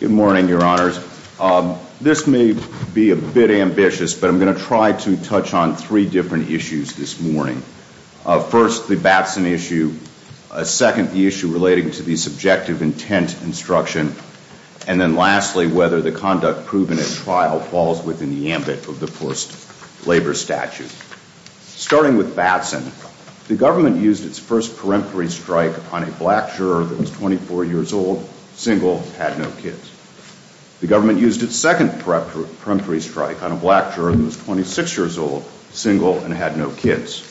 Good morning, Your Honors. This may be a bit ambitious, but I'm going to try to touch on three different issues this morning. First, the Batson issue. Second, the issue relating to the subjective intent instruction. And then lastly, whether the conduct proven at trial falls within the ambit of the forced labor statute. Starting with Batson, the government used its first peremptory strike on a black juror that was 24 years old, single, had no kids. The government used its second peremptory strike on a black juror that was 26 years old, single, and had no kids.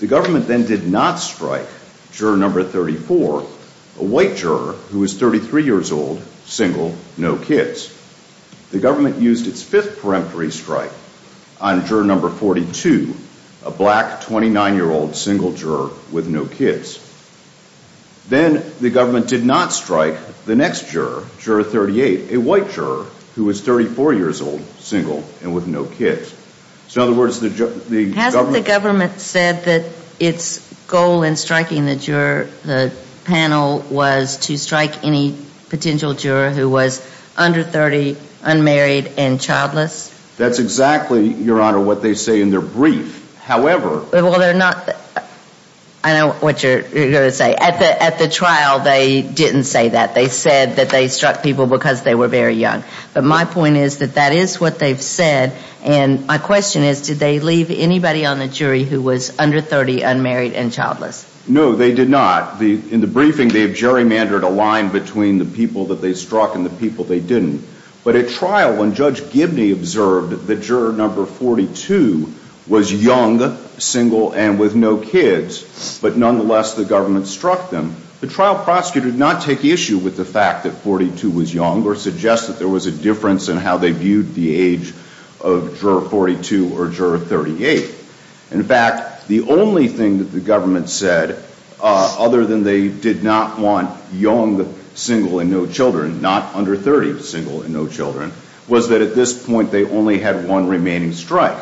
The government then did not strike juror number 34, a white juror who was 33 years old, single, no kids. The government used its fifth peremptory strike on juror number 42, a black 29-year-old, single juror with no kids. Then the government did not strike the next juror, juror 38, a white juror who was 34 years old, single, and with no kids. Hasn't the government said that its goal in striking the panel was to strike any potential juror who was under 30, unmarried, and childless? That's exactly, Your Honor, what they say in their brief. However... Well, they're not... I know what you're going to say. At the trial, they didn't say that. They said that they struck people because they were very young. But my point is that that is what they've said, and my question is, did they leave anybody on the jury who was under 30, unmarried, and childless? No, they did not. In the briefing, they have gerrymandered a line between the people that they struck and the people they didn't. But at trial, when Judge Gibney observed that juror number 42 was young, single, and with no kids, but nonetheless the government struck them, the trial prosecutor did not take issue with the fact that 42 was young or suggest that there was a difference in how they viewed the age of juror 42 or juror 38. In fact, the only thing that the government said, other than they did not want young, single, and no children, not under 30, single, and no children, was that at this point they only had one remaining strike.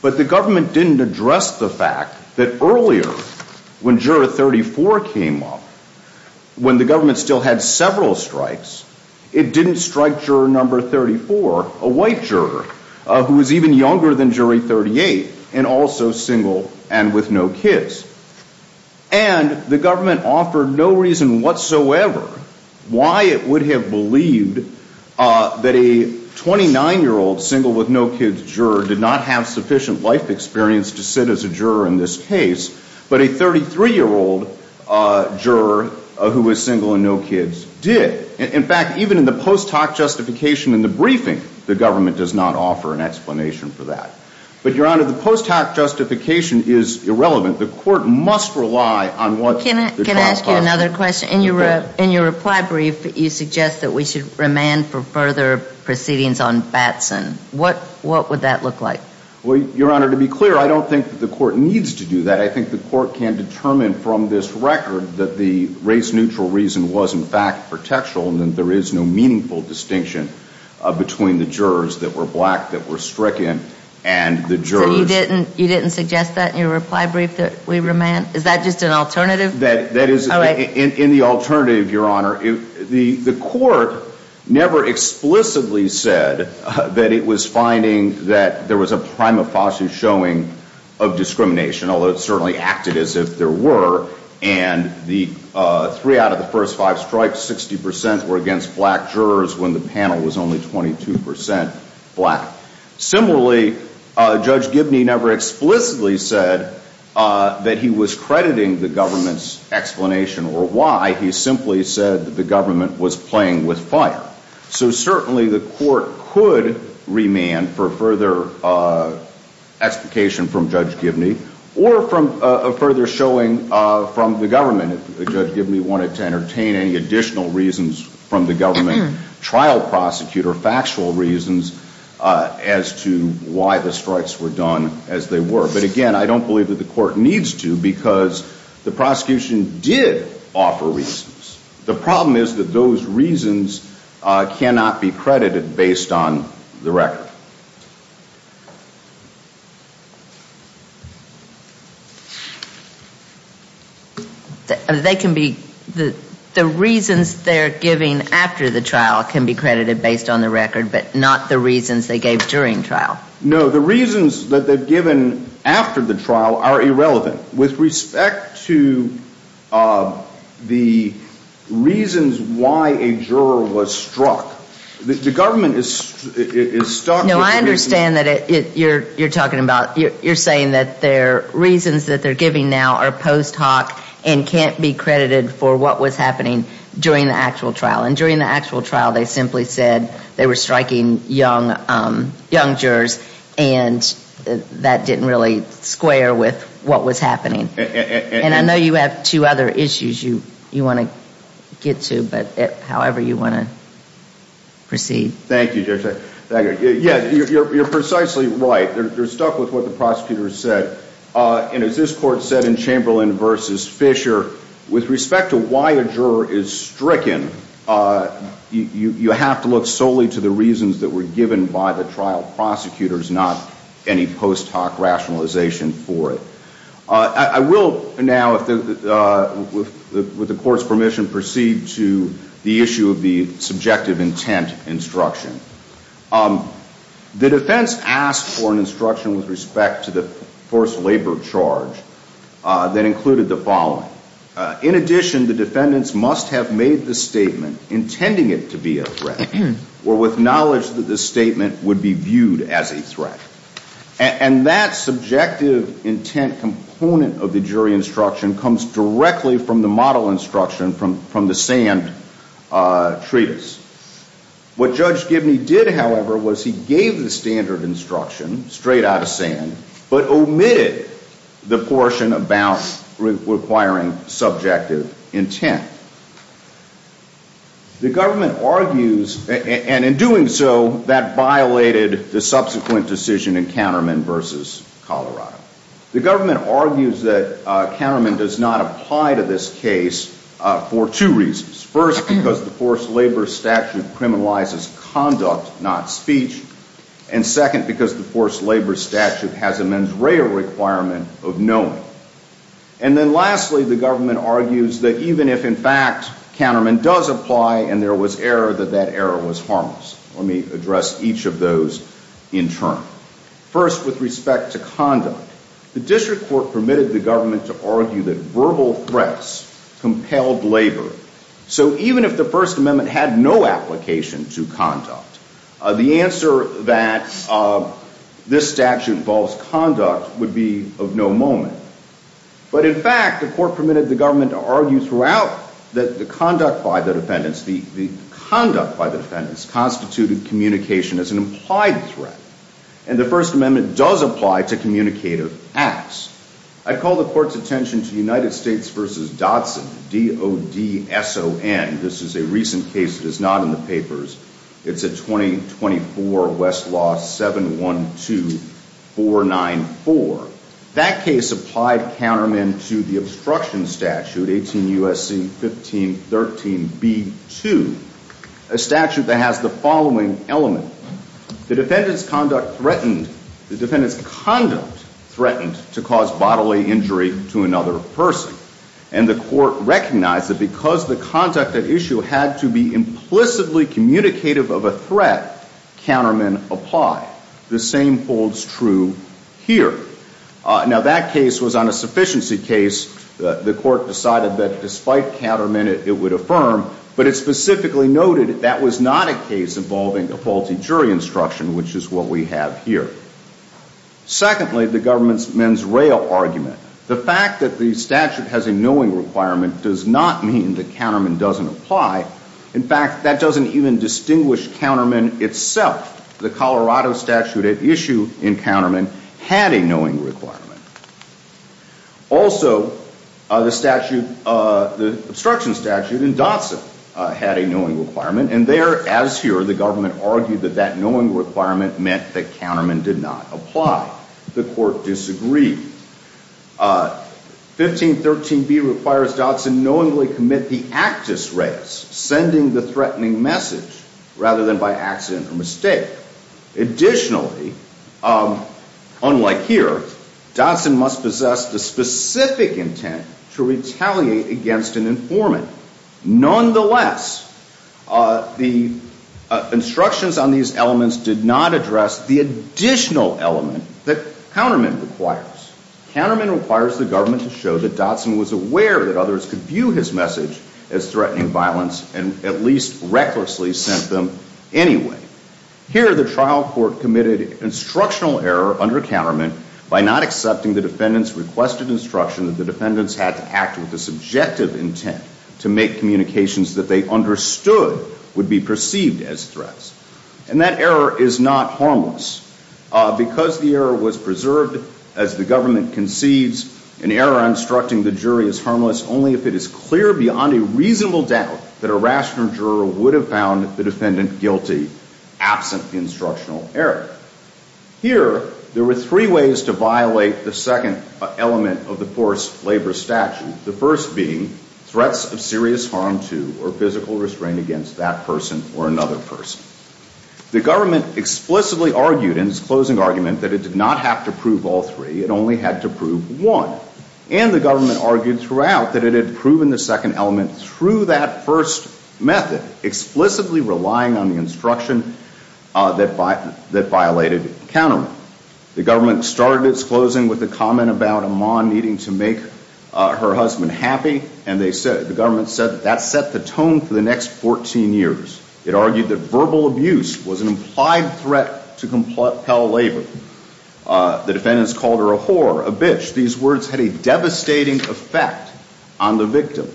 But the government didn't address the fact that earlier, when juror 34 came up, when the government still had several strikes, it didn't strike juror number 34, a white juror, who was even younger than jury 38, and also single and with no kids. And the government offered no reason whatsoever why it would have believed that a 29-year-old single with no kids juror did not have sufficient life experience to sit as a juror in this case, but a 33-year-old juror who was single and no kids did. In fact, even in the post hoc justification in the briefing, the government does not offer an explanation for that. But, Your Honor, the post hoc justification is irrelevant. The court must rely on what the trial costs. Can I ask you another question? Okay. In your reply brief, you suggest that we should remand for further proceedings on Batson. What would that look like? Well, Your Honor, to be clear, I don't think that the court needs to do that. I think the court can determine from this record that the race-neutral reason was, in fact, protection and that there is no meaningful distinction between the jurors that were black, that were stricken, and the jurors. So you didn't suggest that in your reply brief that we remand? Is that just an alternative? That is in the alternative, Your Honor. The court never explicitly said that it was finding that there was a prima facie showing of discrimination, although it certainly acted as if there were. And the three out of the first five strikes, 60 percent were against black jurors when the panel was only 22 percent black. Similarly, Judge Gibney never explicitly said that he was crediting the government's explanation or why. He simply said that the government was playing with fire. So certainly the court could remand for further explication from Judge Gibney or for further showing from the government if Judge Gibney wanted to entertain any additional reasons from the government trial prosecutor, factual reasons, as to why the strikes were done as they were. But, again, I don't believe that the court needs to because the prosecution did offer reasons. The problem is that those reasons cannot be credited based on the record. They can be, the reasons they're giving after the trial can be credited based on the record, but not the reasons they gave during trial. No, the reasons that they've given after the trial are irrelevant. With respect to the reasons why a juror was struck, the government is stuck. No, I understand that you're talking about, you're saying that their reasons that they're giving now are post hoc and can't be credited for what was happening during the actual trial. And during the actual trial, they simply said they were striking young jurors and that didn't really square with what was happening. And I know you have two other issues you want to get to, but however you want to proceed. Thank you, Judge. Yes, you're precisely right. You're stuck with what the prosecutor said. And as this court said in Chamberlain v. Fisher, with respect to why a juror is stricken, you have to look solely to the reasons that were given by the trial prosecutors, not any post hoc rationalization for it. I will now, with the court's permission, proceed to the issue of the subjective intent instruction. The defense asked for an instruction with respect to the forced labor charge that included the following. In addition, the defendants must have made the statement intending it to be a threat or with knowledge that the statement would be viewed as a threat. And that subjective intent component of the jury instruction comes directly from the model instruction from the Sand Treatise. What Judge Gibney did, however, was he gave the standard instruction straight out of Sand but omitted the portion about requiring subjective intent. The government argues, and in doing so, that violated the subsequent decision in Counterman v. Colorado. The government argues that Counterman does not apply to this case for two reasons. First, because the forced labor statute criminalizes conduct, not speech. And second, because the forced labor statute has a mens rea requirement of knowing. And then lastly, the government argues that even if, in fact, Counterman does apply and there was error, that that error was harmless. Let me address each of those in turn. First, with respect to conduct, the district court permitted the government to argue that verbal threats compelled labor. So even if the First Amendment had no application to conduct, the answer that this statute involves conduct would be of no moment. But in fact, the court permitted the government to argue throughout that the conduct by the defendants, the conduct by the defendants constituted communication as an implied threat. And the First Amendment does apply to communicative acts. I call the court's attention to United States v. Dodson, D-O-D-S-O-N. This is a recent case that is not in the papers. It's a 2024 Westlaw 712494. That case applied Counterman to the obstruction statute, 18 U.S.C. 1513b2, a statute that has the following element. The defendant's conduct threatened, the defendant's conduct threatened to cause bodily injury to another person. And the court recognized that because the conduct at issue had to be implicitly communicative of a threat, Counterman applied. The same holds true here. Now, that case was on a sufficiency case. The court decided that despite Counterman, it would affirm. But it specifically noted that was not a case involving a faulty jury instruction, which is what we have here. Secondly, the government's men's rail argument. The fact that the statute has a knowing requirement does not mean that Counterman doesn't apply. In fact, that doesn't even distinguish Counterman itself. The Colorado statute at issue in Counterman had a knowing requirement. Also, the statute, the obstruction statute in Dotson had a knowing requirement. And there, as here, the government argued that that knowing requirement meant that Counterman did not apply. The court disagreed. 1513b requires Dotson knowingly commit the actus reus, sending the threatening message, rather than by accident or mistake. Additionally, unlike here, Dotson must possess the specific intent to retaliate against an informant. Nonetheless, the instructions on these elements did not address the additional element that Counterman requires. Counterman requires the government to show that Dotson was aware that others could view his message as threatening violence and at least recklessly sent them anyway. Here, the trial court committed instructional error under Counterman by not accepting the defendant's requested instruction that the defendants had to act with a subjective intent to make communications that they understood would be perceived as threats. And that error is not harmless. Because the error was preserved as the government conceives, an error instructing the jury is harmless only if it is clear beyond a reasonable doubt that a rational juror would have found the defendant guilty absent the instructional error. Here, there were three ways to violate the second element of the forced labor statute. The first being threats of serious harm to or physical restraint against that person or another person. The government explicitly argued in its closing argument that it did not have to prove all three. It only had to prove one. And the government argued throughout that it had proven the second element through that first method, explicitly relying on the instruction that violated Counterman. The government started its closing with a comment about a mom needing to make her husband happy, and the government said that set the tone for the next 14 years. It argued that verbal abuse was an implied threat to compel labor. The defendants called her a whore, a bitch. These words had a devastating effect on the victim.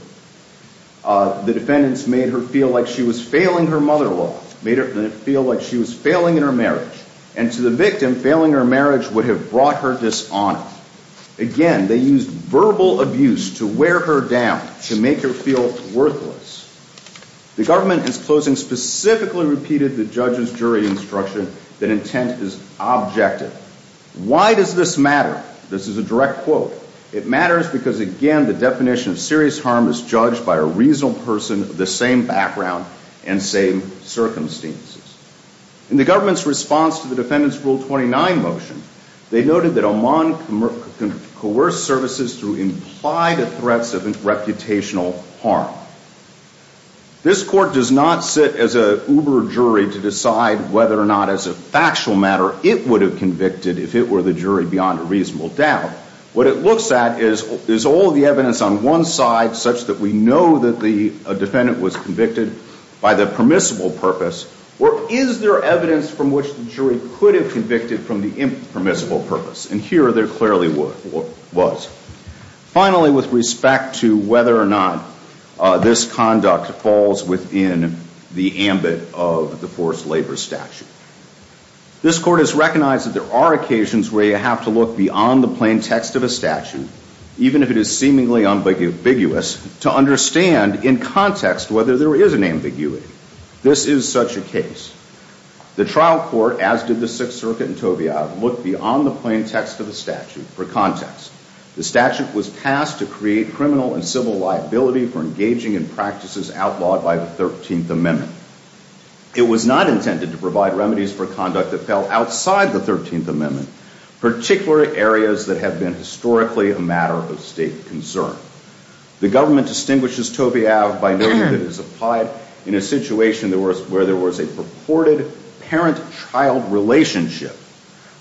The defendants made her feel like she was failing her mother-in-law, made her feel like she was failing in her marriage. And to the victim, failing her marriage would have brought her dishonor. Again, they used verbal abuse to wear her down, to make her feel worthless. The government, in its closing, specifically repeated the judge's jury instruction that intent is objective. Why does this matter? This is a direct quote. It matters because, again, the definition of serious harm is judged by a reasonable person of the same background and same circumstances. In the government's response to the defendant's Rule 29 motion, they noted that Oman coerced services through implied threats of reputational harm. This court does not sit as an uber-jury to decide whether or not, as a factual matter, it would have convicted if it were the jury beyond a reasonable doubt. What it looks at is, is all the evidence on one side such that we know that the defendant was convicted by the permissible purpose, or is there evidence from which the jury could have convicted from the impermissible purpose? And here, there clearly was. Finally, with respect to whether or not this conduct falls within the ambit of the forced labor statute, this court has recognized that there are occasions where you have to look beyond the plain text of a statute, even if it is seemingly ambiguous, to understand, in context, whether there is an ambiguity. This is such a case. The trial court, as did the Sixth Circuit and Tovia, looked beyond the plain text of the statute for context. The statute was passed to create criminal and civil liability for engaging in practices outlawed by the 13th Amendment. It was not intended to provide remedies for conduct that fell outside the 13th Amendment, particularly areas that have been historically a matter of state concern. The government distinguishes Tovia by noting that it was applied in a situation where there was a purported parent-child relationship,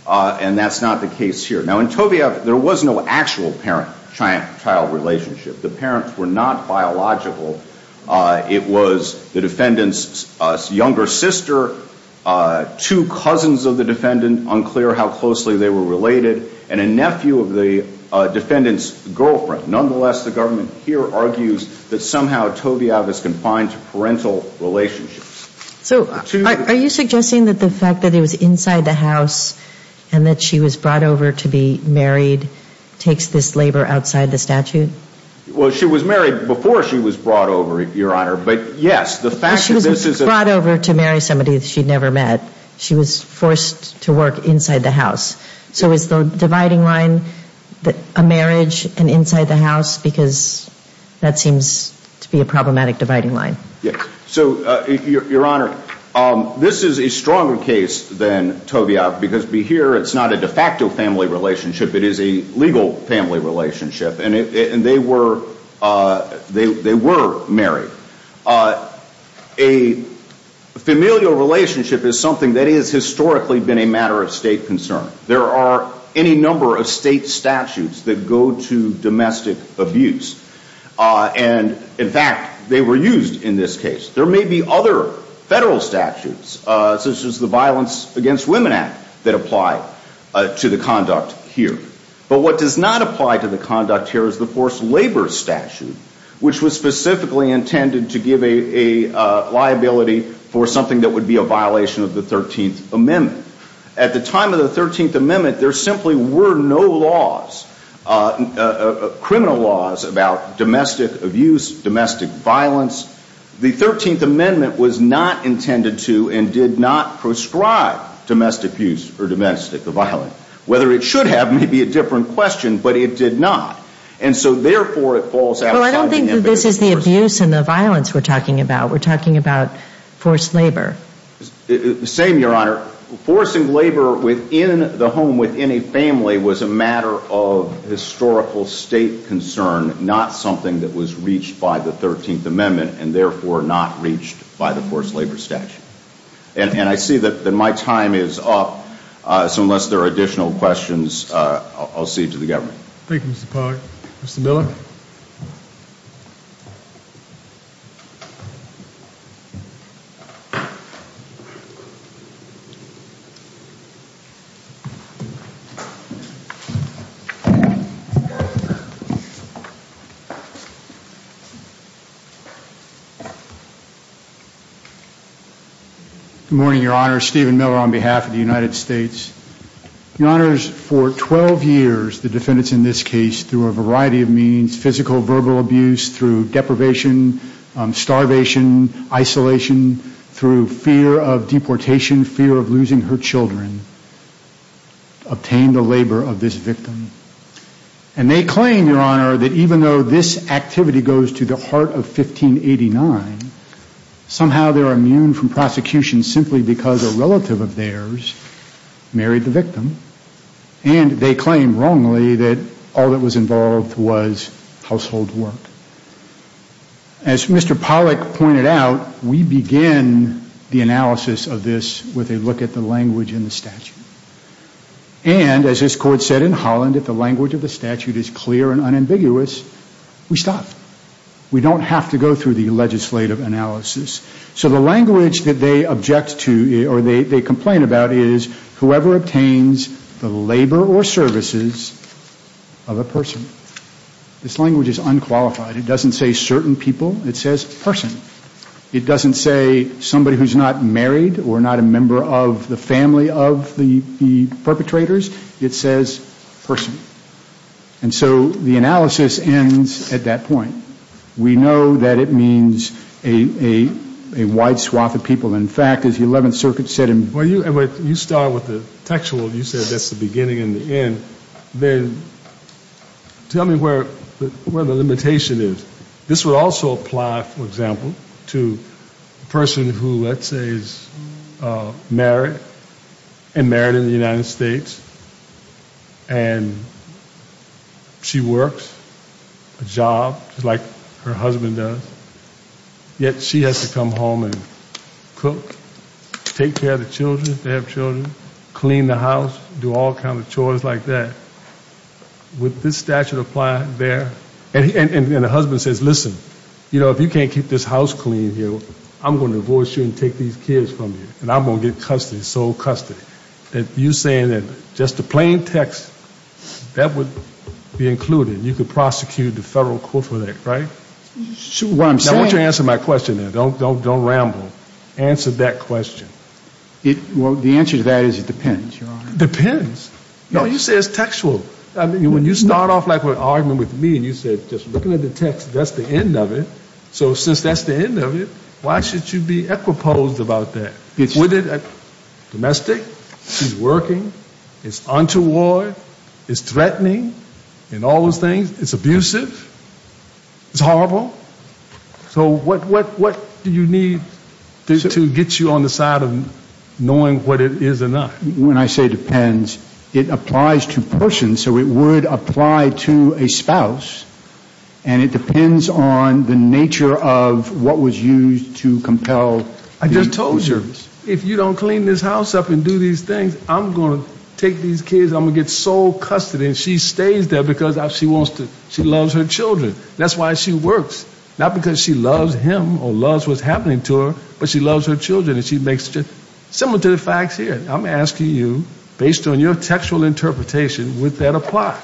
and that's not the case here. Now, in Tovia, there was no actual parent-child relationship. The parents were not biological. It was the defendant's younger sister, two cousins of the defendant, unclear how closely they were related, and a nephew of the defendant's girlfriend. Nonetheless, the government here argues that somehow Tovia is confined to parental relationships. So are you suggesting that the fact that it was inside the house and that she was brought over to be married takes this labor outside the statute? Well, she was married before she was brought over, Your Honor, but yes, the fact that this is a Well, she wasn't brought over to marry somebody that she'd never met. She was forced to work inside the house. So is the dividing line a marriage and inside the house? Because that seems to be a problematic dividing line. Yes. So, Your Honor, this is a stronger case than Tovia because here it's not a de facto family relationship. It is a legal family relationship. And they were married. A familial relationship is something that has historically been a matter of state concern. There are any number of state statutes that go to domestic abuse. And, in fact, they were used in this case. There may be other federal statutes, such as the Violence Against Women Act, that apply to the conduct here. But what does not apply to the conduct here is the forced labor statute, which was specifically intended to give a liability for something that would be a violation of the 13th Amendment. At the time of the 13th Amendment, there simply were no laws, criminal laws, about domestic abuse, domestic violence. The 13th Amendment was not intended to and did not prescribe domestic abuse or domestic violence. Whether it should have may be a different question. But it did not. And so, therefore, it falls outside the invocative force. Well, I don't think that this is the abuse and the violence we're talking about. We're talking about forced labor. The same, Your Honor. Forcing labor within the home, within a family, was a matter of historical state concern, not something that was reached by the 13th Amendment and, therefore, not reached by the forced labor statute. And I see that my time is up, so unless there are additional questions, I'll cede to the government. Thank you, Mr. Pollard. Mr. Miller? Good morning, Your Honor. Stephen Miller on behalf of the United States. Your Honors, for 12 years, the defendants in this case, through a variety of means, physical, verbal abuse, through deprivation, starvation, isolation, through fear of deportation, fear of losing her children, obtained the labor of this victim. And they claim, Your Honor, that even though this activity goes to the heart of 1589, somehow they're immune from prosecution simply because a relative of theirs married the victim. And they claim, wrongly, that all that was involved was household work. As Mr. Pollack pointed out, we begin the analysis of this with a look at the language in the statute. And, as this Court said in Holland, if the language of the statute is clear and unambiguous, we stop. We don't have to go through the legislative analysis. So the language that they object to or they complain about is, whoever obtains the labor or services of a person. This language is unqualified. It doesn't say certain people. It says person. It doesn't say somebody who's not married or not a member of the family of the perpetrators. It says person. And so the analysis ends at that point. We know that it means a wide swath of people. In fact, as the 11th Circuit said in Well, you start with the textual. You said that's the beginning and the end. Then tell me where the limitation is. This would also apply, for example, to a person who, let's say, is married, and married in the United States, and she works a job just like her husband does, yet she has to come home and cook, take care of the children if they have children, clean the house, do all kinds of chores like that. Would this statute apply there? And the husband says, listen, you know, if you can't keep this house clean here, I'm going to divorce you and take these kids from you, and I'm going to get custody, sole custody. You're saying that just the plain text, that would be included. You could prosecute the Federal Court for that, right? Now, I want you to answer my question there. Don't ramble. Answer that question. Well, the answer to that is it depends, Your Honor. Depends? No, you said it's textual. When you start off, like, with arguing with me, and you said just looking at the text, that's the end of it. So since that's the end of it, why should you be equipoised about that? Domestic, she's working, it's untoward, it's threatening, and all those things. It's abusive. It's horrible. So what do you need to get you on the side of knowing what it is or not? When I say depends, it applies to persons, so it would apply to a spouse, and it depends on the nature of what was used to compel the abuse. I just told you, if you don't clean this house up and do these things, I'm going to take these kids, I'm going to get sole custody, and she stays there because she loves her children. That's why she works, not because she loves him or loves what's happening to her, but she loves her children. And she makes, similar to the facts here, I'm asking you, based on your textual interpretation, would that apply?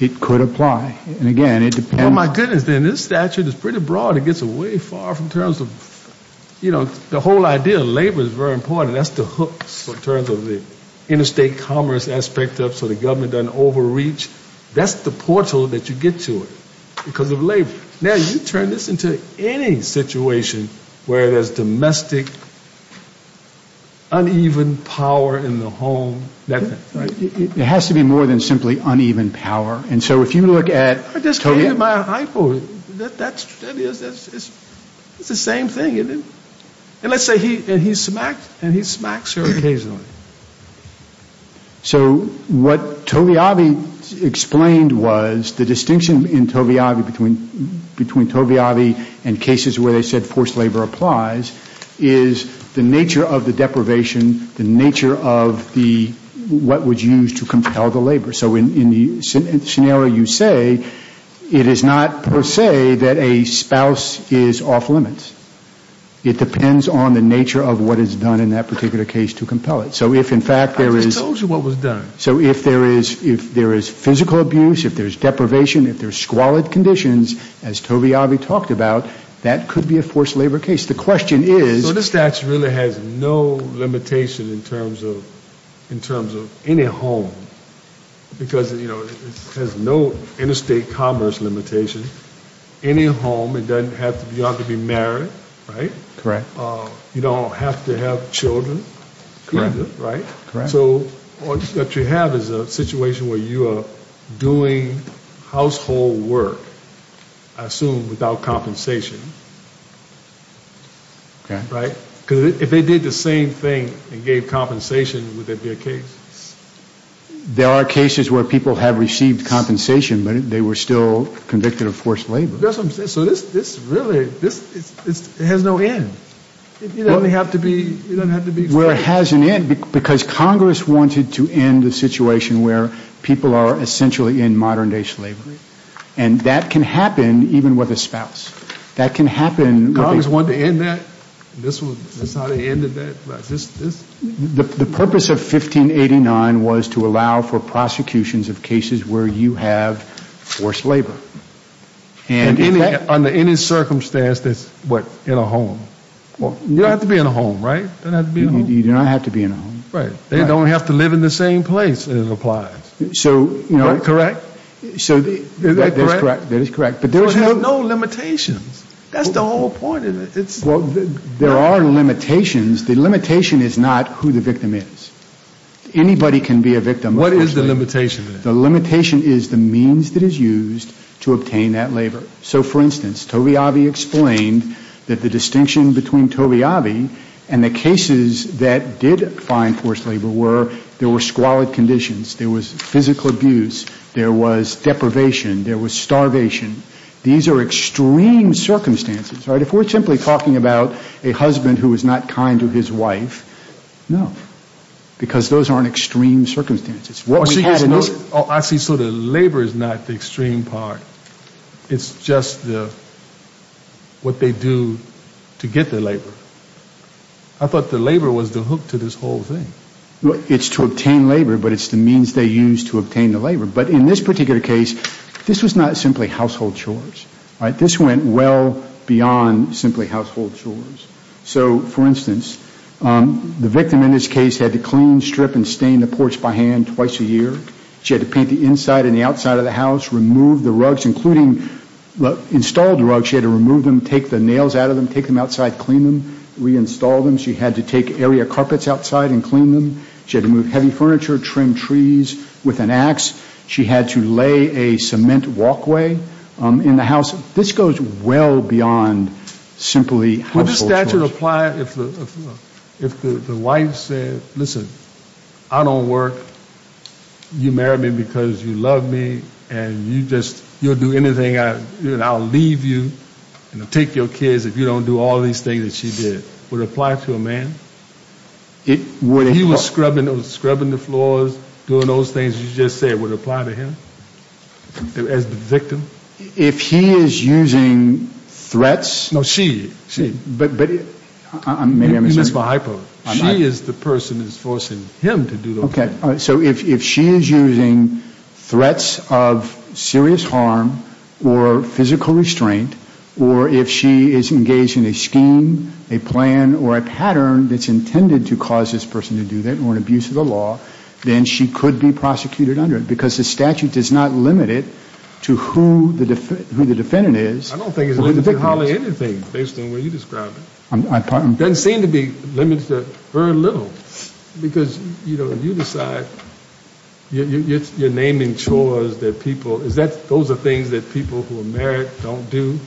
It could apply, and again, it depends. Oh, my goodness, then, this statute is pretty broad. It gets away far from terms of, you know, the whole idea of labor is very important. That's the hook in terms of the interstate commerce aspect of it so the government doesn't overreach. That's the portal that you get to it because of labor. Now, you turn this into any situation where there's domestic, uneven power in the home. It has to be more than simply uneven power. And so if you look at... I just gave you my iPod. That's the same thing. And let's say he smacks her occasionally. So what Tovi Avi explained was the distinction in Tovi Avi, between Tovi Avi and cases where they said forced labor applies, is the nature of the deprivation, the nature of what was used to compel the labor. So in the scenario you say, it is not per se that a spouse is off limits. It depends on the nature of what is done in that particular case to compel it. I just told you what was done. So if there is physical abuse, if there's deprivation, if there's squalid conditions, as Tovi Avi talked about, that could be a forced labor case. The question is... So this statute really has no limitation in terms of any home, because it has no interstate commerce limitation. Any home, it doesn't have to be married, right? Correct. You don't have to have children, right? Correct. So what you have is a situation where you are doing household work, I assume without compensation, right? Because if they did the same thing and gave compensation, would there be a case? There are cases where people have received compensation, but they were still convicted of forced labor. So this really has no end. It doesn't have to be... Well, it has an end, because Congress wanted to end the situation where people are essentially in modern day slavery. And that can happen even with a spouse. That can happen... Congress wanted to end that? This is how they ended that? The purpose of 1589 was to allow for prosecutions of cases where you have forced labor. Under any circumstance that's, what, in a home? You don't have to be in a home, right? You do not have to be in a home. Right. They don't have to live in the same place, it applies. Correct? Is that correct? That is correct. There's no limitations. That's the whole point of it. There are limitations. The limitation is not who the victim is. Anybody can be a victim. What is the limitation? The limitation is the means that is used to obtain that labor. So, for instance, Tovey Avi explained that the distinction between Tovey Avi and the cases that did find forced labor were there were squalid conditions, there was physical abuse, there was deprivation, there was starvation. These are extreme circumstances, right? If we're simply talking about a husband who was not kind to his wife, no. Because those aren't extreme circumstances. What we had in this... Oh, I see. So the labor is not the extreme part. It's just what they do to get the labor. I thought the labor was the hook to this whole thing. It's to obtain labor, but it's the means they use to obtain the labor. But in this particular case, this was not simply household chores, right? This went well beyond simply household chores. So, for instance, the victim in this case had to clean, strip, and stain the porch by hand twice a year. She had to paint the inside and the outside of the house, remove the rugs, including the installed rugs. She had to remove them, take the nails out of them, take them outside, clean them, reinstall them. She had to take area carpets outside and clean them. She had to move heavy furniture, trim trees with an ax. She had to lay a cement walkway in the house. This goes well beyond simply household chores. Would this statute apply if the wife said, listen, I don't work. You married me because you love me, and you'll do anything. I'll leave you and take your kids if you don't do all these things that she did. Would it apply to a man? If he was scrubbing the floors, doing those things you just said, would it apply to him as the victim? If he is using threats? No, she. You missed my hypo. She is the person who is forcing him to do those things. Okay. So if she is using threats of serious harm or physical restraint, or if she is engaged in a scheme, a plan, or a pattern that's intended to cause this person to do that or an abuse of the law, then she could be prosecuted under it. Because the statute does not limit it to who the defendant is. I don't think it limits it to anything, based on the way you described it. It doesn't seem to be limited to very little. Because, you know, you decide, you're naming chores that people, those are things that people who are married don't do,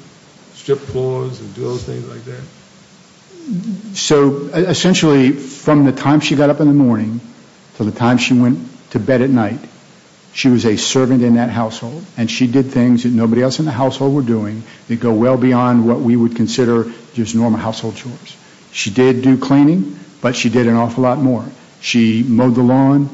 strip floors and do those things like that. So, essentially, from the time she got up in the morning to the time she went to bed at night, she was a servant in that household, and she did things that nobody else in the household were doing that go well beyond what we would consider just normal household chores. She did do cleaning, but she did an awful lot more. She mowed the lawn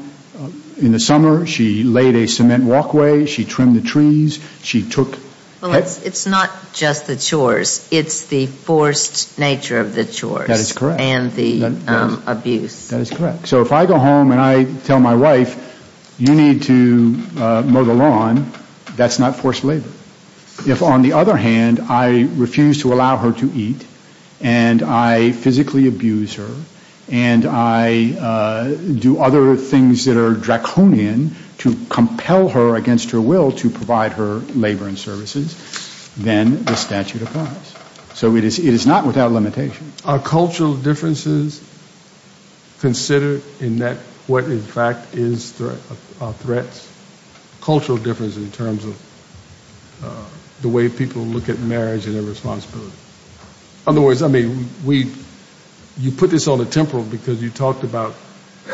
in the summer. She laid a cement walkway. She trimmed the trees. She took... Well, it's not just the chores. It's the forced nature of the chores. That is correct. And the abuse. That is correct. So if I go home and I tell my wife, you need to mow the lawn, that's not forced labor. If, on the other hand, I refuse to allow her to eat, and I physically abuse her, and I do other things that are draconian to compel her against her will to provide her labor and services, then the statute applies. So it is not without limitation. Are cultural differences considered in that what, in fact, is threats? Cultural differences in terms of the way people look at marriage and their responsibility. In other words, I mean, you put this on the temporal because you talked about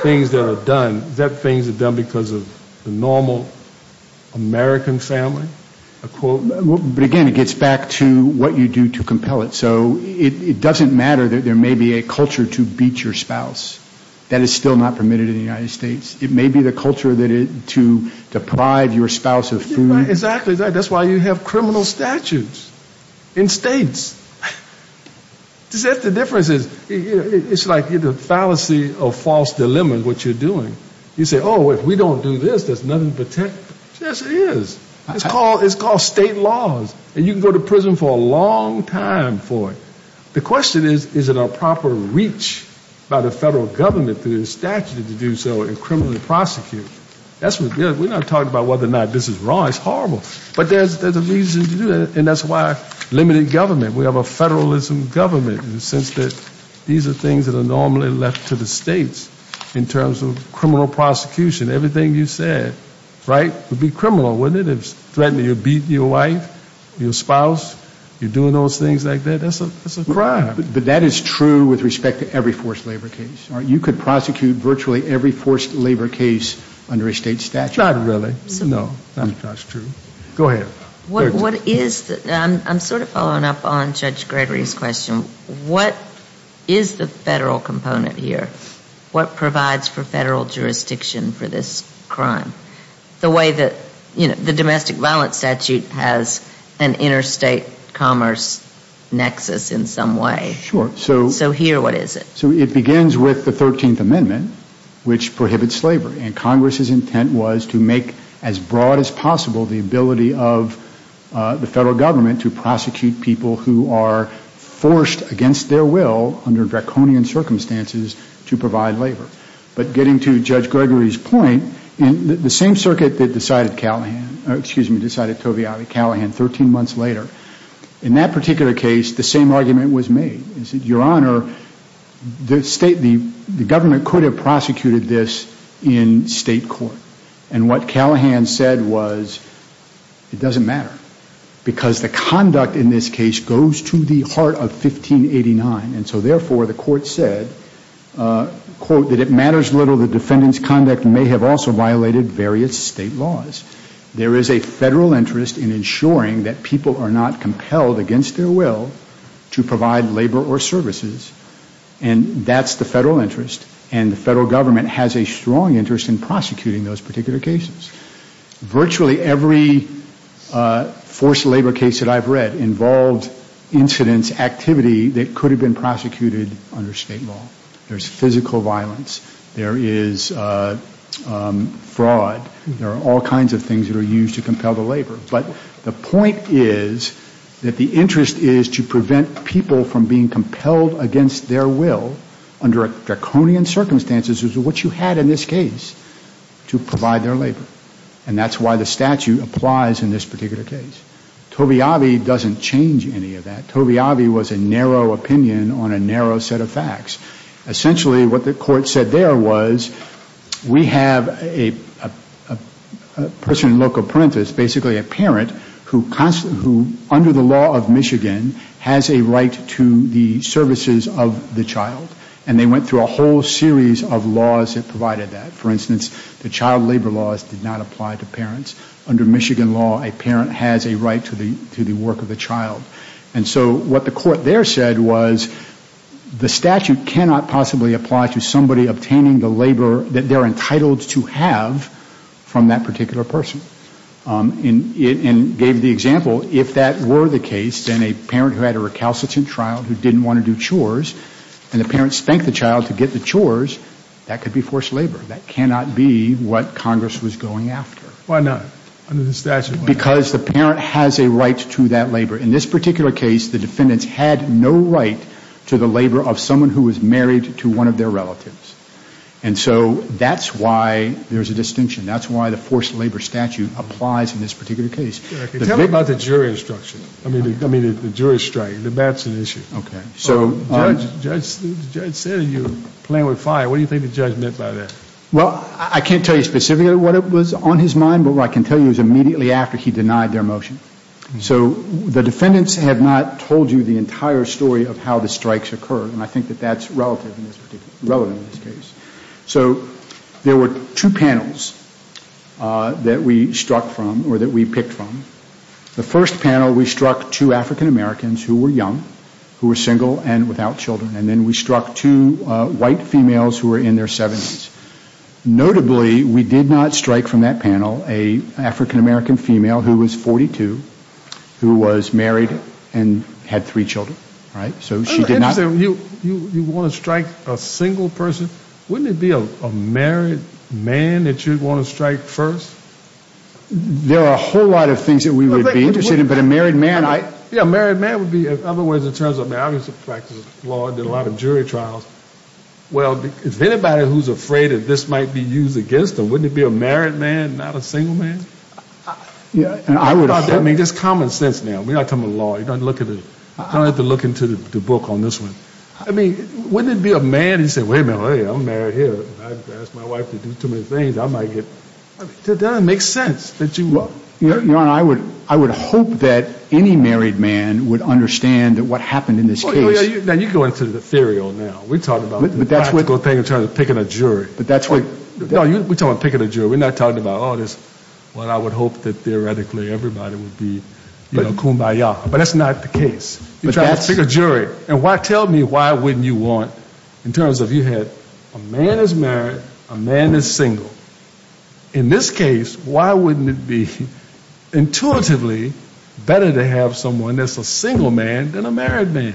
things that are done. Is that things that are done because of the normal American family? But, again, it gets back to what you do to compel it. So it doesn't matter that there may be a culture to beat your spouse. That is still not permitted in the United States. It may be the culture to deprive your spouse of food. Exactly. That's why you have criminal statutes in states. That's the difference. It's like the fallacy or false dilemma of what you're doing. You say, oh, if we don't do this, there's nothing to protect. Yes, there is. It's called state laws. And you can go to prison for a long time for it. The question is, is it a proper reach by the federal government through the statute to do so and criminally prosecute? We're not talking about whether or not this is wrong. It's horrible. But there's a reason to do that. And that's why limited government. We have a federalism government in the sense that these are things that are normally left to the states in terms of criminal prosecution. Everything you said, right, would be criminal, wouldn't it? You're threatening to beat your wife, your spouse. You're doing those things like that. That's a crime. But that is true with respect to every forced labor case. You could prosecute virtually every forced labor case under a state statute. Not really. No. That's true. Go ahead. I'm sort of following up on Judge Gregory's question. What is the federal component here? What provides for federal jurisdiction for this crime? The way that the domestic violence statute has an interstate commerce nexus in some way. Sure. So here, what is it? So it begins with the 13th Amendment, which prohibits slavery. And Congress's intent was to make as broad as possible the ability of the federal government to prosecute people who are forced against their will under draconian circumstances to provide labor. But getting to Judge Gregory's point, the same circuit that decided Calihan, excuse me, decided Tove Ali Calihan 13 months later, in that particular case, the same argument was made. It said, Your Honor, the government could have prosecuted this in state court. And what Calihan said was it doesn't matter because the conduct in this case goes to the heart of 1589. And so, therefore, the court said, quote, that it matters little that defendants' conduct may have also violated various state laws. There is a federal interest in ensuring that people are not compelled against their will to provide labor or services. And that's the federal interest. And the federal government has a strong interest in prosecuting those particular cases. Virtually every forced labor case that I've read involved incidents, activity that could have been prosecuted under state law. There's physical violence. There is fraud. There are all kinds of things that are used to compel the labor. But the point is that the interest is to prevent people from being compelled against their will under draconian circumstances, which is what you had in this case, to provide their labor. And that's why the statute applies in this particular case. Tove Ali doesn't change any of that. Tove Ali was a narrow opinion on a narrow set of facts. Essentially, what the court said there was, we have a person in loco parentis, basically a parent, who under the law of Michigan has a right to the services of the child. And they went through a whole series of laws that provided that. For instance, the child labor laws did not apply to parents. Under Michigan law, a parent has a right to the work of the child. And so what the court there said was the statute cannot possibly apply to somebody obtaining the labor that they're entitled to have from that particular person. And gave the example, if that were the case, then a parent who had a recalcitrant trial, who didn't want to do chores, and the parent spanked the child to get the chores, that could be forced labor. That cannot be what Congress was going after. Why not? Under the statute, why not? Because the parent has a right to that labor. In this particular case, the defendants had no right to the labor of someone who was married to one of their relatives. And so that's why there's a distinction. That's why the forced labor statute applies in this particular case. Tell me about the jury instruction. I mean, the jury strike. That's an issue. Okay. So the judge said you're playing with fire. What do you think the judge meant by that? Well, I can't tell you specifically what was on his mind. But what I can tell you is immediately after he denied their motion. So the defendants have not told you the entire story of how the strikes occurred. And I think that that's relative in this case. So there were two panels that we struck from or that we picked from. The first panel, we struck two African Americans who were young, who were single and without children. And then we struck two white females who were in their 70s. Notably, we did not strike from that panel an African American female who was 42, who was married and had three children. So she did not. You want to strike a single person? Wouldn't it be a married man that you'd want to strike first? There are a whole lot of things that we would be interested in. But a married man, I. Yeah, a married man would be otherwise in terms of, I mean, I used to practice law. I did a lot of jury trials. Well, if anybody who's afraid that this might be used against them, wouldn't it be a married man, not a single man? Yeah, I would. I mean, just common sense now. We're not talking about law. You don't have to look into the book on this one. I mean, wouldn't it be a man who said, wait a minute, I'm married here. I asked my wife to do too many things. I might get. It doesn't make sense that you would. Your Honor, I would hope that any married man would understand what happened in this case. Now, you go into the theory now. We're talking about the practical thing in terms of picking a jury. No, we're talking about picking a jury. We're not talking about, oh, this, well, I would hope that theoretically everybody would be kumbaya. But that's not the case. You're trying to pick a jury. And tell me why wouldn't you want, in terms of you had a man is married, a man is single. In this case, why wouldn't it be intuitively better to have someone that's a single man than a married man?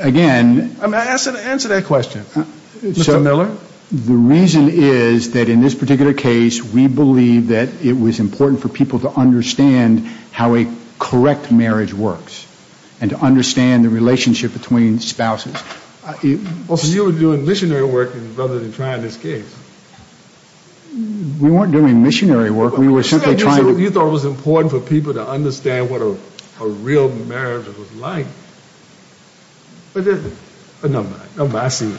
Again. Answer that question, Mr. Miller. The reason is that in this particular case, we believe that it was important for people to understand how a correct marriage works and to understand the relationship between spouses. So you were doing missionary work rather than trying this case. We weren't doing missionary work. We were simply trying to. You thought it was important for people to understand what a real marriage was like. It isn't. No, I see.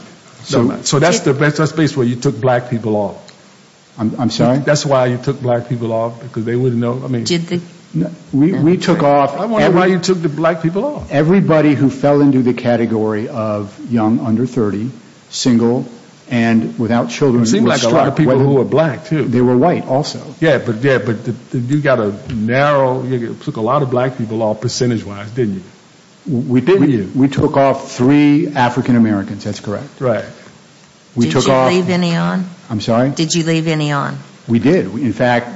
So that's the space where you took black people off. I'm sorry? That's why you took black people off, because they wouldn't know. We took off. I wonder why you took the black people off. Everybody who fell into the category of young, under 30, single, and without children. It seemed like a lot of people who were black, too. They were white, also. Yeah, but you got a narrow, you took a lot of black people off percentage wise, didn't you? We took off three African Americans, that's correct. Right. Did you leave any on? I'm sorry? Did you leave any on? We did. In fact,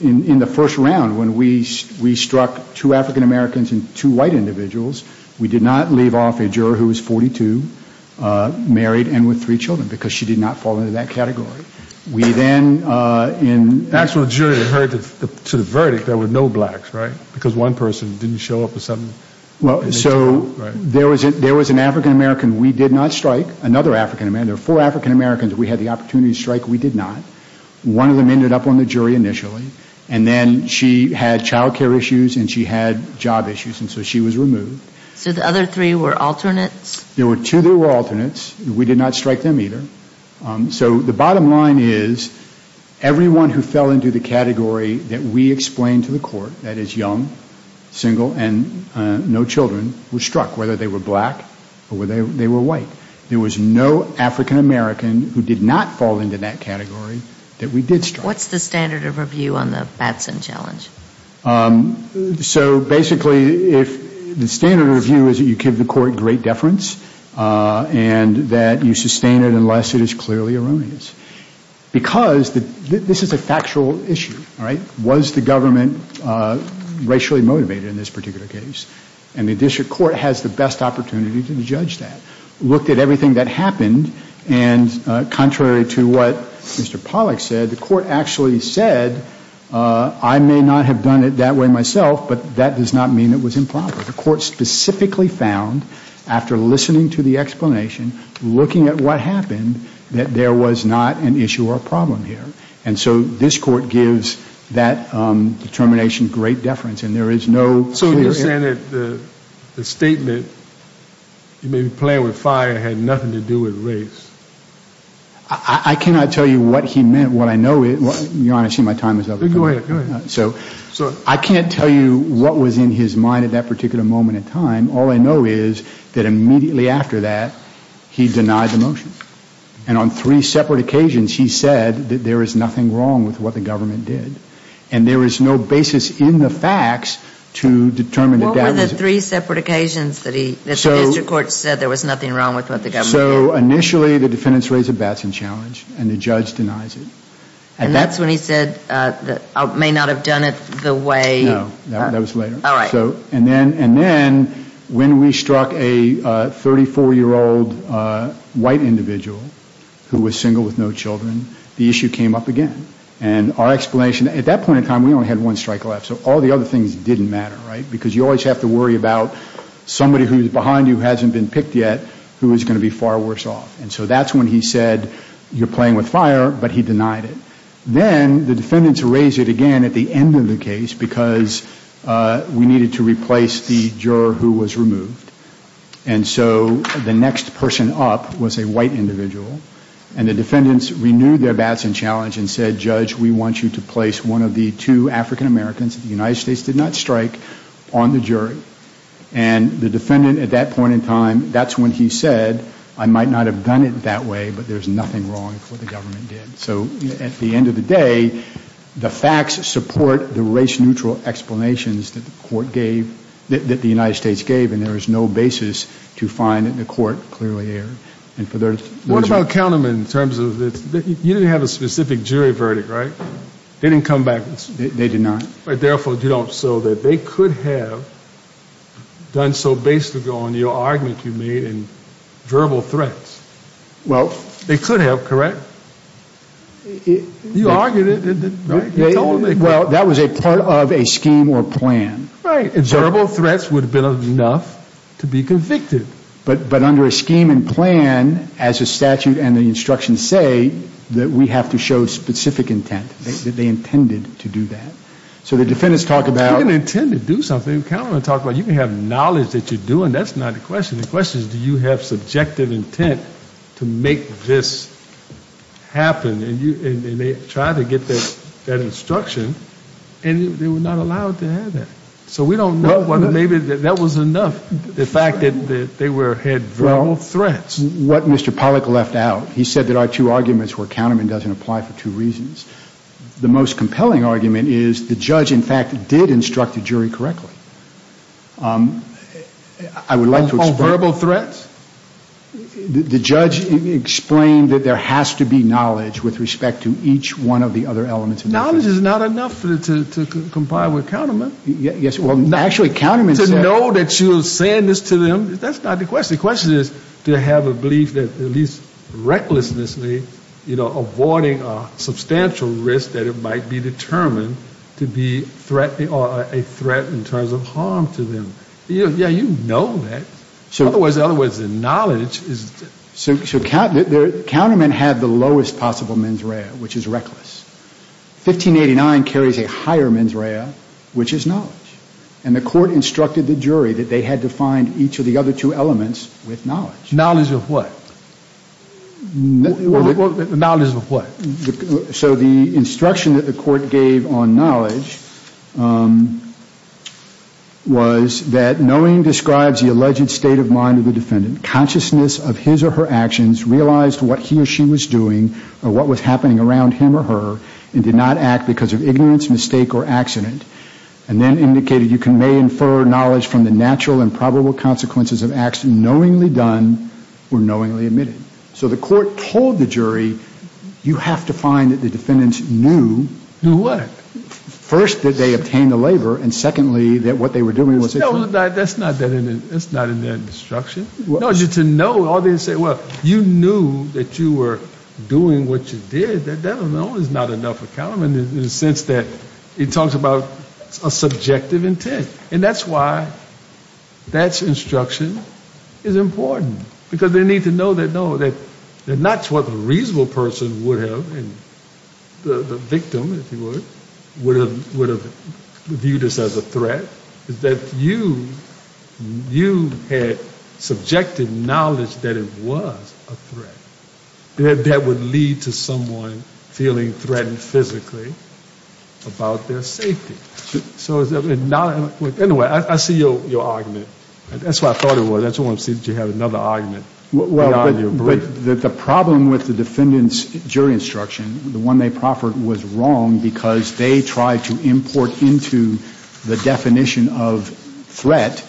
in the first round, when we struck two African Americans and two white individuals, we did not leave off a juror who was 42, married, and with three children, because she did not fall into that category. We then, in... The actual jury that heard to the verdict, there were no blacks, right? Because one person didn't show up with something. So there was an African American we did not strike, another African American. There were four African Americans we had the opportunity to strike we did not. One of them ended up on the jury initially, and then she had child care issues and she had job issues, and so she was removed. So the other three were alternates? There were two that were alternates. We did not strike them either. So the bottom line is everyone who fell into the category that we explained to the court, that is young, single, and no children, was struck, whether they were black or they were white. There was no African American who did not fall into that category that we did strike. What's the standard of review on the Batson challenge? So basically, the standard of review is that you give the court great deference and that you sustain it unless it is clearly erroneous. Because this is a factual issue, right? Was the government racially motivated in this particular case? And the district court has the best opportunity to judge that. We looked at everything that happened, and contrary to what Mr. Pollack said, the court actually said, I may not have done it that way myself, but that does not mean it was improper. The court specifically found, after listening to the explanation, looking at what happened, that there was not an issue or a problem here. And so this court gives that determination great deference. So you're saying that the statement, you may be playing with fire, had nothing to do with race? I cannot tell you what he meant. What I know is, you want to see my time is up. Go ahead. I can't tell you what was in his mind at that particular moment in time. All I know is that immediately after that, he denied the motion. And on three separate occasions, he said that there is nothing wrong with what the government did. And there is no basis in the facts to determine that that is. What were the three separate occasions that the district court said there was nothing wrong with what the government did? So initially, the defendants raised a Batson challenge, and the judge denies it. And that's when he said, I may not have done it the way. No, that was later. All right. And then when we struck a 34-year-old white individual who was single with no children, the issue came up again. And our explanation, at that point in time, we only had one strike left. So all the other things didn't matter, right? Because you always have to worry about somebody who is behind you who hasn't been picked yet who is going to be far worse off. And so that's when he said, you're playing with fire, but he denied it. Then the defendants raised it again at the end of the case because we needed to replace the juror who was removed. And so the next person up was a white individual. And the defendants renewed their Batson challenge and said, Judge, we want you to place one of the two African-Americans that the United States did not strike on the jury. And the defendant, at that point in time, that's when he said, I might not have done it that way, but there's nothing wrong with what the government did. So at the end of the day, the facts support the race-neutral explanations that the court gave, that the United States gave, and there is no basis to find that the court clearly erred. What about countermen in terms of this? You didn't have a specific jury verdict, right? They didn't come back. They did not. Therefore, so that they could have done so based on your argument you made in verbal threats. Well. They could have, correct? You argued it, right? Well, that was a part of a scheme or plan. Right. Verbal threats would have been enough to be convicted. But under a scheme and plan, as a statute and the instructions say, that we have to show specific intent, that they intended to do that. So the defendants talk about. They didn't intend to do something. Countermen talk about you can have knowledge that you're doing. That's not the question. The question is, do you have subjective intent to make this happen? And they tried to get that instruction, and they were not allowed to have that. So we don't know whether maybe that was enough. The fact that they had verbal threats. What Mr. Pollack left out. He said there are two arguments where countermen doesn't apply for two reasons. The most compelling argument is the judge, in fact, did instruct the jury correctly. I would like to explain. On verbal threats? The judge explained that there has to be knowledge with respect to each one of the other elements. Knowledge is not enough to comply with countermen. To know that you're saying this to them, that's not the question. The question is to have a belief that at least recklessnessly, avoiding a substantial risk that it might be determined to be a threat in terms of harm to them. Yeah, you know that. In other words, the knowledge is. So countermen have the lowest possible mens rea, which is reckless. 1589 carries a higher mens rea, which is knowledge. And the court instructed the jury that they had to find each of the other two elements with knowledge. Knowledge of what? Knowledge of what? So the instruction that the court gave on knowledge was that knowing describes the alleged state of mind of the defendant. Consciousness of his or her actions realized what he or she was doing or what was happening around him or her and did not act because of ignorance, mistake, or accident. And then indicated you may infer knowledge from the natural and probable consequences of acts knowingly done or knowingly admitted. So the court told the jury, you have to find that the defendants knew. Knew what? First, that they obtained the labor. And secondly, that what they were doing was. That's not in that instruction. No, just to know. Well, you knew that you were doing what you did. That doesn't mean there's not enough account in the sense that it talks about a subjective intent. And that's why that instruction is important. Because they need to know that not what the reasonable person would have, the victim, if you would, would have viewed this as a threat. Is that you had subjective knowledge that it was a threat. That would lead to someone feeling threatened physically about their safety. So anyway, I see your argument. That's what I thought it was. I just want to see that you have another argument beyond your brief. The problem with the defendant's jury instruction, the one they proffered, was wrong because they tried to import into the definition of threat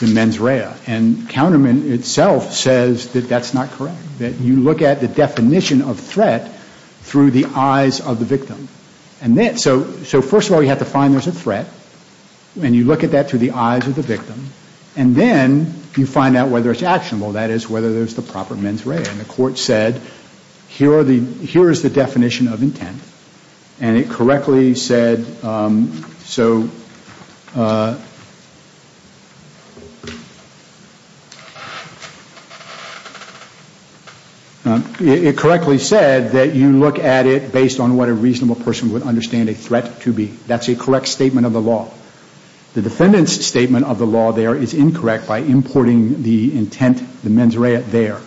the mens rea. And counterman itself says that that's not correct. That you look at the definition of threat through the eyes of the victim. So first of all, you have to find there's a threat. And you look at that through the eyes of the victim. And then you find out whether it's actionable. That is, whether there's the proper mens rea. And the court said, here is the definition of intent. And it correctly said that you look at it based on what a reasonable person would understand a threat to be. That's a correct statement of the law. The defendant's statement of the law there is incorrect by importing the intent, the mens rea, there.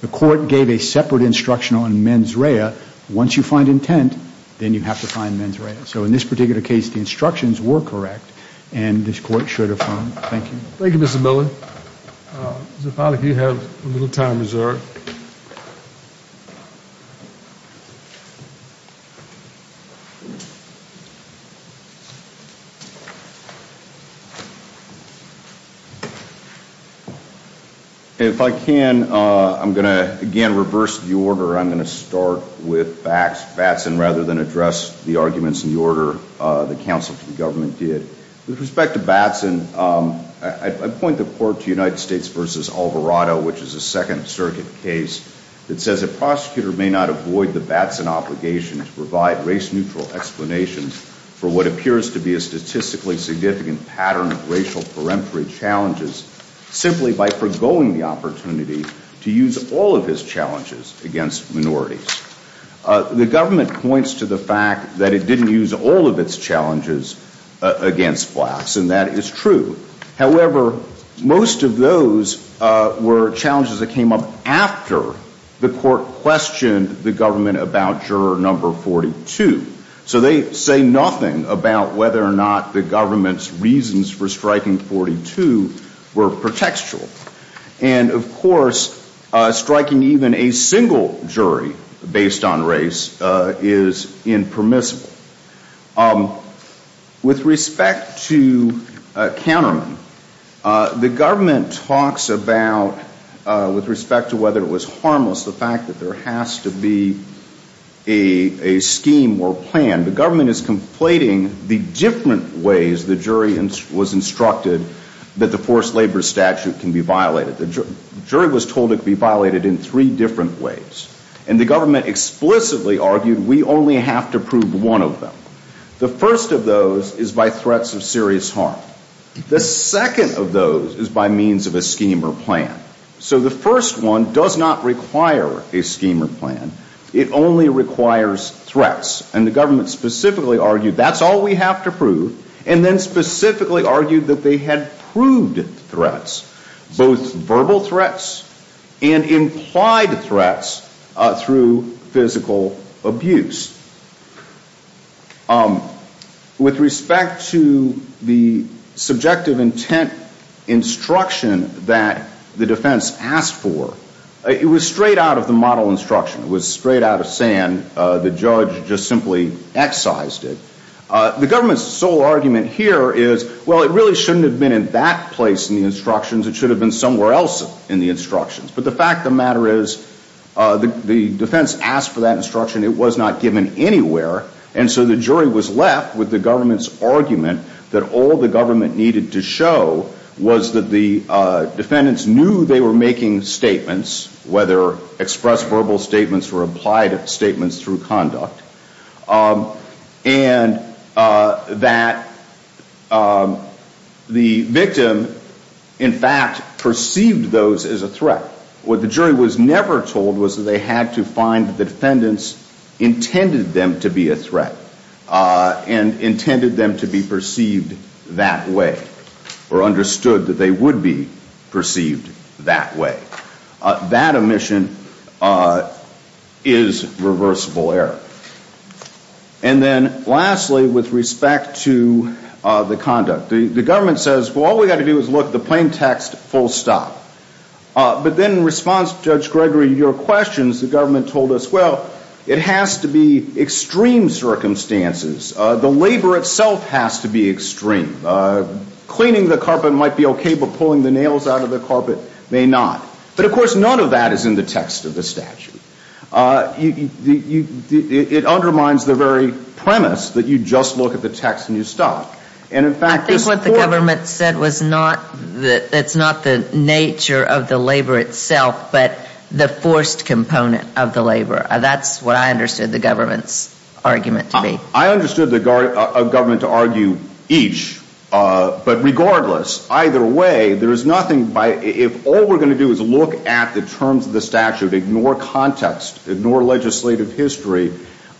The court gave a separate instruction on mens rea. Once you find intent, then you have to find mens rea. So in this particular case, the instructions were correct. And this court should affirm. Thank you. Thank you, Mr. Miller. Mr. Pollack, you have a little time reserved. If I can, I'm going to, again, reverse the order. I'm going to start with Batson rather than address the arguments in the order the counsel to the government did. With respect to Batson, I point the court to United States v. Alvarado, which is a Second Circuit case, that says a prosecutor may not avoid the Batson obligation to provide race-neutral explanations for what appears to be a statistically significant pattern of racial peremptory challenges simply by forgoing the opportunity to use all of his challenges against minorities. The government points to the fact that it didn't use all of its challenges against blacks, and that is true. However, most of those were challenges that came up after the court questioned the government about juror number 42. So they say nothing about whether or not the government's reasons for striking 42 were pretextual. And, of course, striking even a single jury based on race is impermissible. With respect to Canterman, the government talks about, with respect to whether it was harmless, the fact that there has to be a scheme or plan. The government is conflating the different ways the jury was instructed that the forced labor statute can be violated. The jury was told it could be violated in three different ways. And the government explicitly argued we only have to prove one of them. The first of those is by threats of serious harm. The second of those is by means of a scheme or plan. So the first one does not require a scheme or plan. It only requires threats. And the government specifically argued that's all we have to prove, and then specifically argued that they had proved threats, both verbal threats and implied threats through physical abuse. With respect to the subjective intent instruction that the defense asked for, it was straight out of the model instruction. It was straight out of sand. The judge just simply excised it. The government's sole argument here is, well, it really shouldn't have been in that place in the instructions. It should have been somewhere else in the instructions. But the fact of the matter is the defense asked for that instruction. It was not given anywhere. And so the jury was left with the government's argument that all the government needed to show was that the defendants knew they were making statements, whether express verbal statements or implied statements through conduct, and that the victim in fact perceived those as a threat. What the jury was never told was that they had to find the defendants intended them to be a threat and intended them to be perceived that way or understood that they would be perceived that way. That omission is reversible error. And then lastly, with respect to the conduct, the government says, well, all we've got to do is look at the plain text full stop. But then in response to Judge Gregory, your questions, the government told us, well, it has to be extreme circumstances. The labor itself has to be extreme. Cleaning the carpet might be okay, but pulling the nails out of the carpet may not. But, of course, none of that is in the text of the statute. It undermines the very premise that you just look at the text and you stop. I think what the government said was not that it's not the nature of the labor itself, but the forced component of the labor. That's what I understood the government's argument to be. I understood the government to argue each. But regardless, either way, there is nothing by, if all we're going to do is look at the terms of the statute, ignore context, ignore legislative history,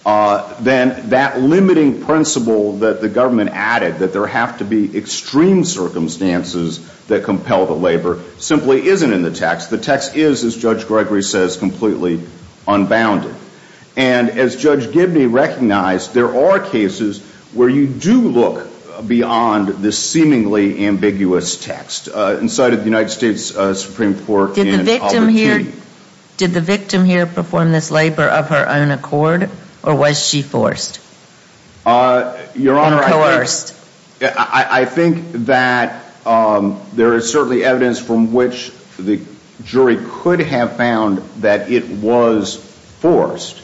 then that limiting principle that the government added, that there have to be extreme circumstances that compel the labor, simply isn't in the text. The text is, as Judge Gregory says, completely unbounded. And as Judge Gibney recognized, there are cases where you do look beyond this seemingly ambiguous text. Did the victim here perform this labor of her own accord, or was she forced? Your Honor, I think that there is certainly evidence from which the jury could have found that it was forced.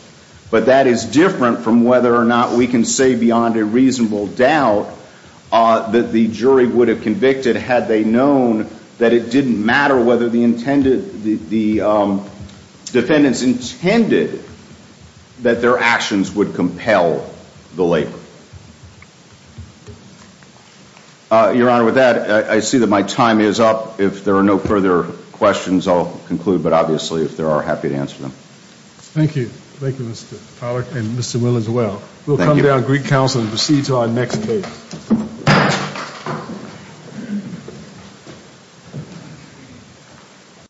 But that is different from whether or not we can say beyond a reasonable doubt that the jury would have convicted had they known that it didn't matter whether the defendants intended that their actions would compel the labor. Your Honor, with that, I see that my time is up. If there are no further questions, I'll conclude. But obviously, if there are, happy to answer them. Thank you. Thank you, Mr. Pollack, and Mr. Will as well. We'll come down to Greek Council and proceed to our next case.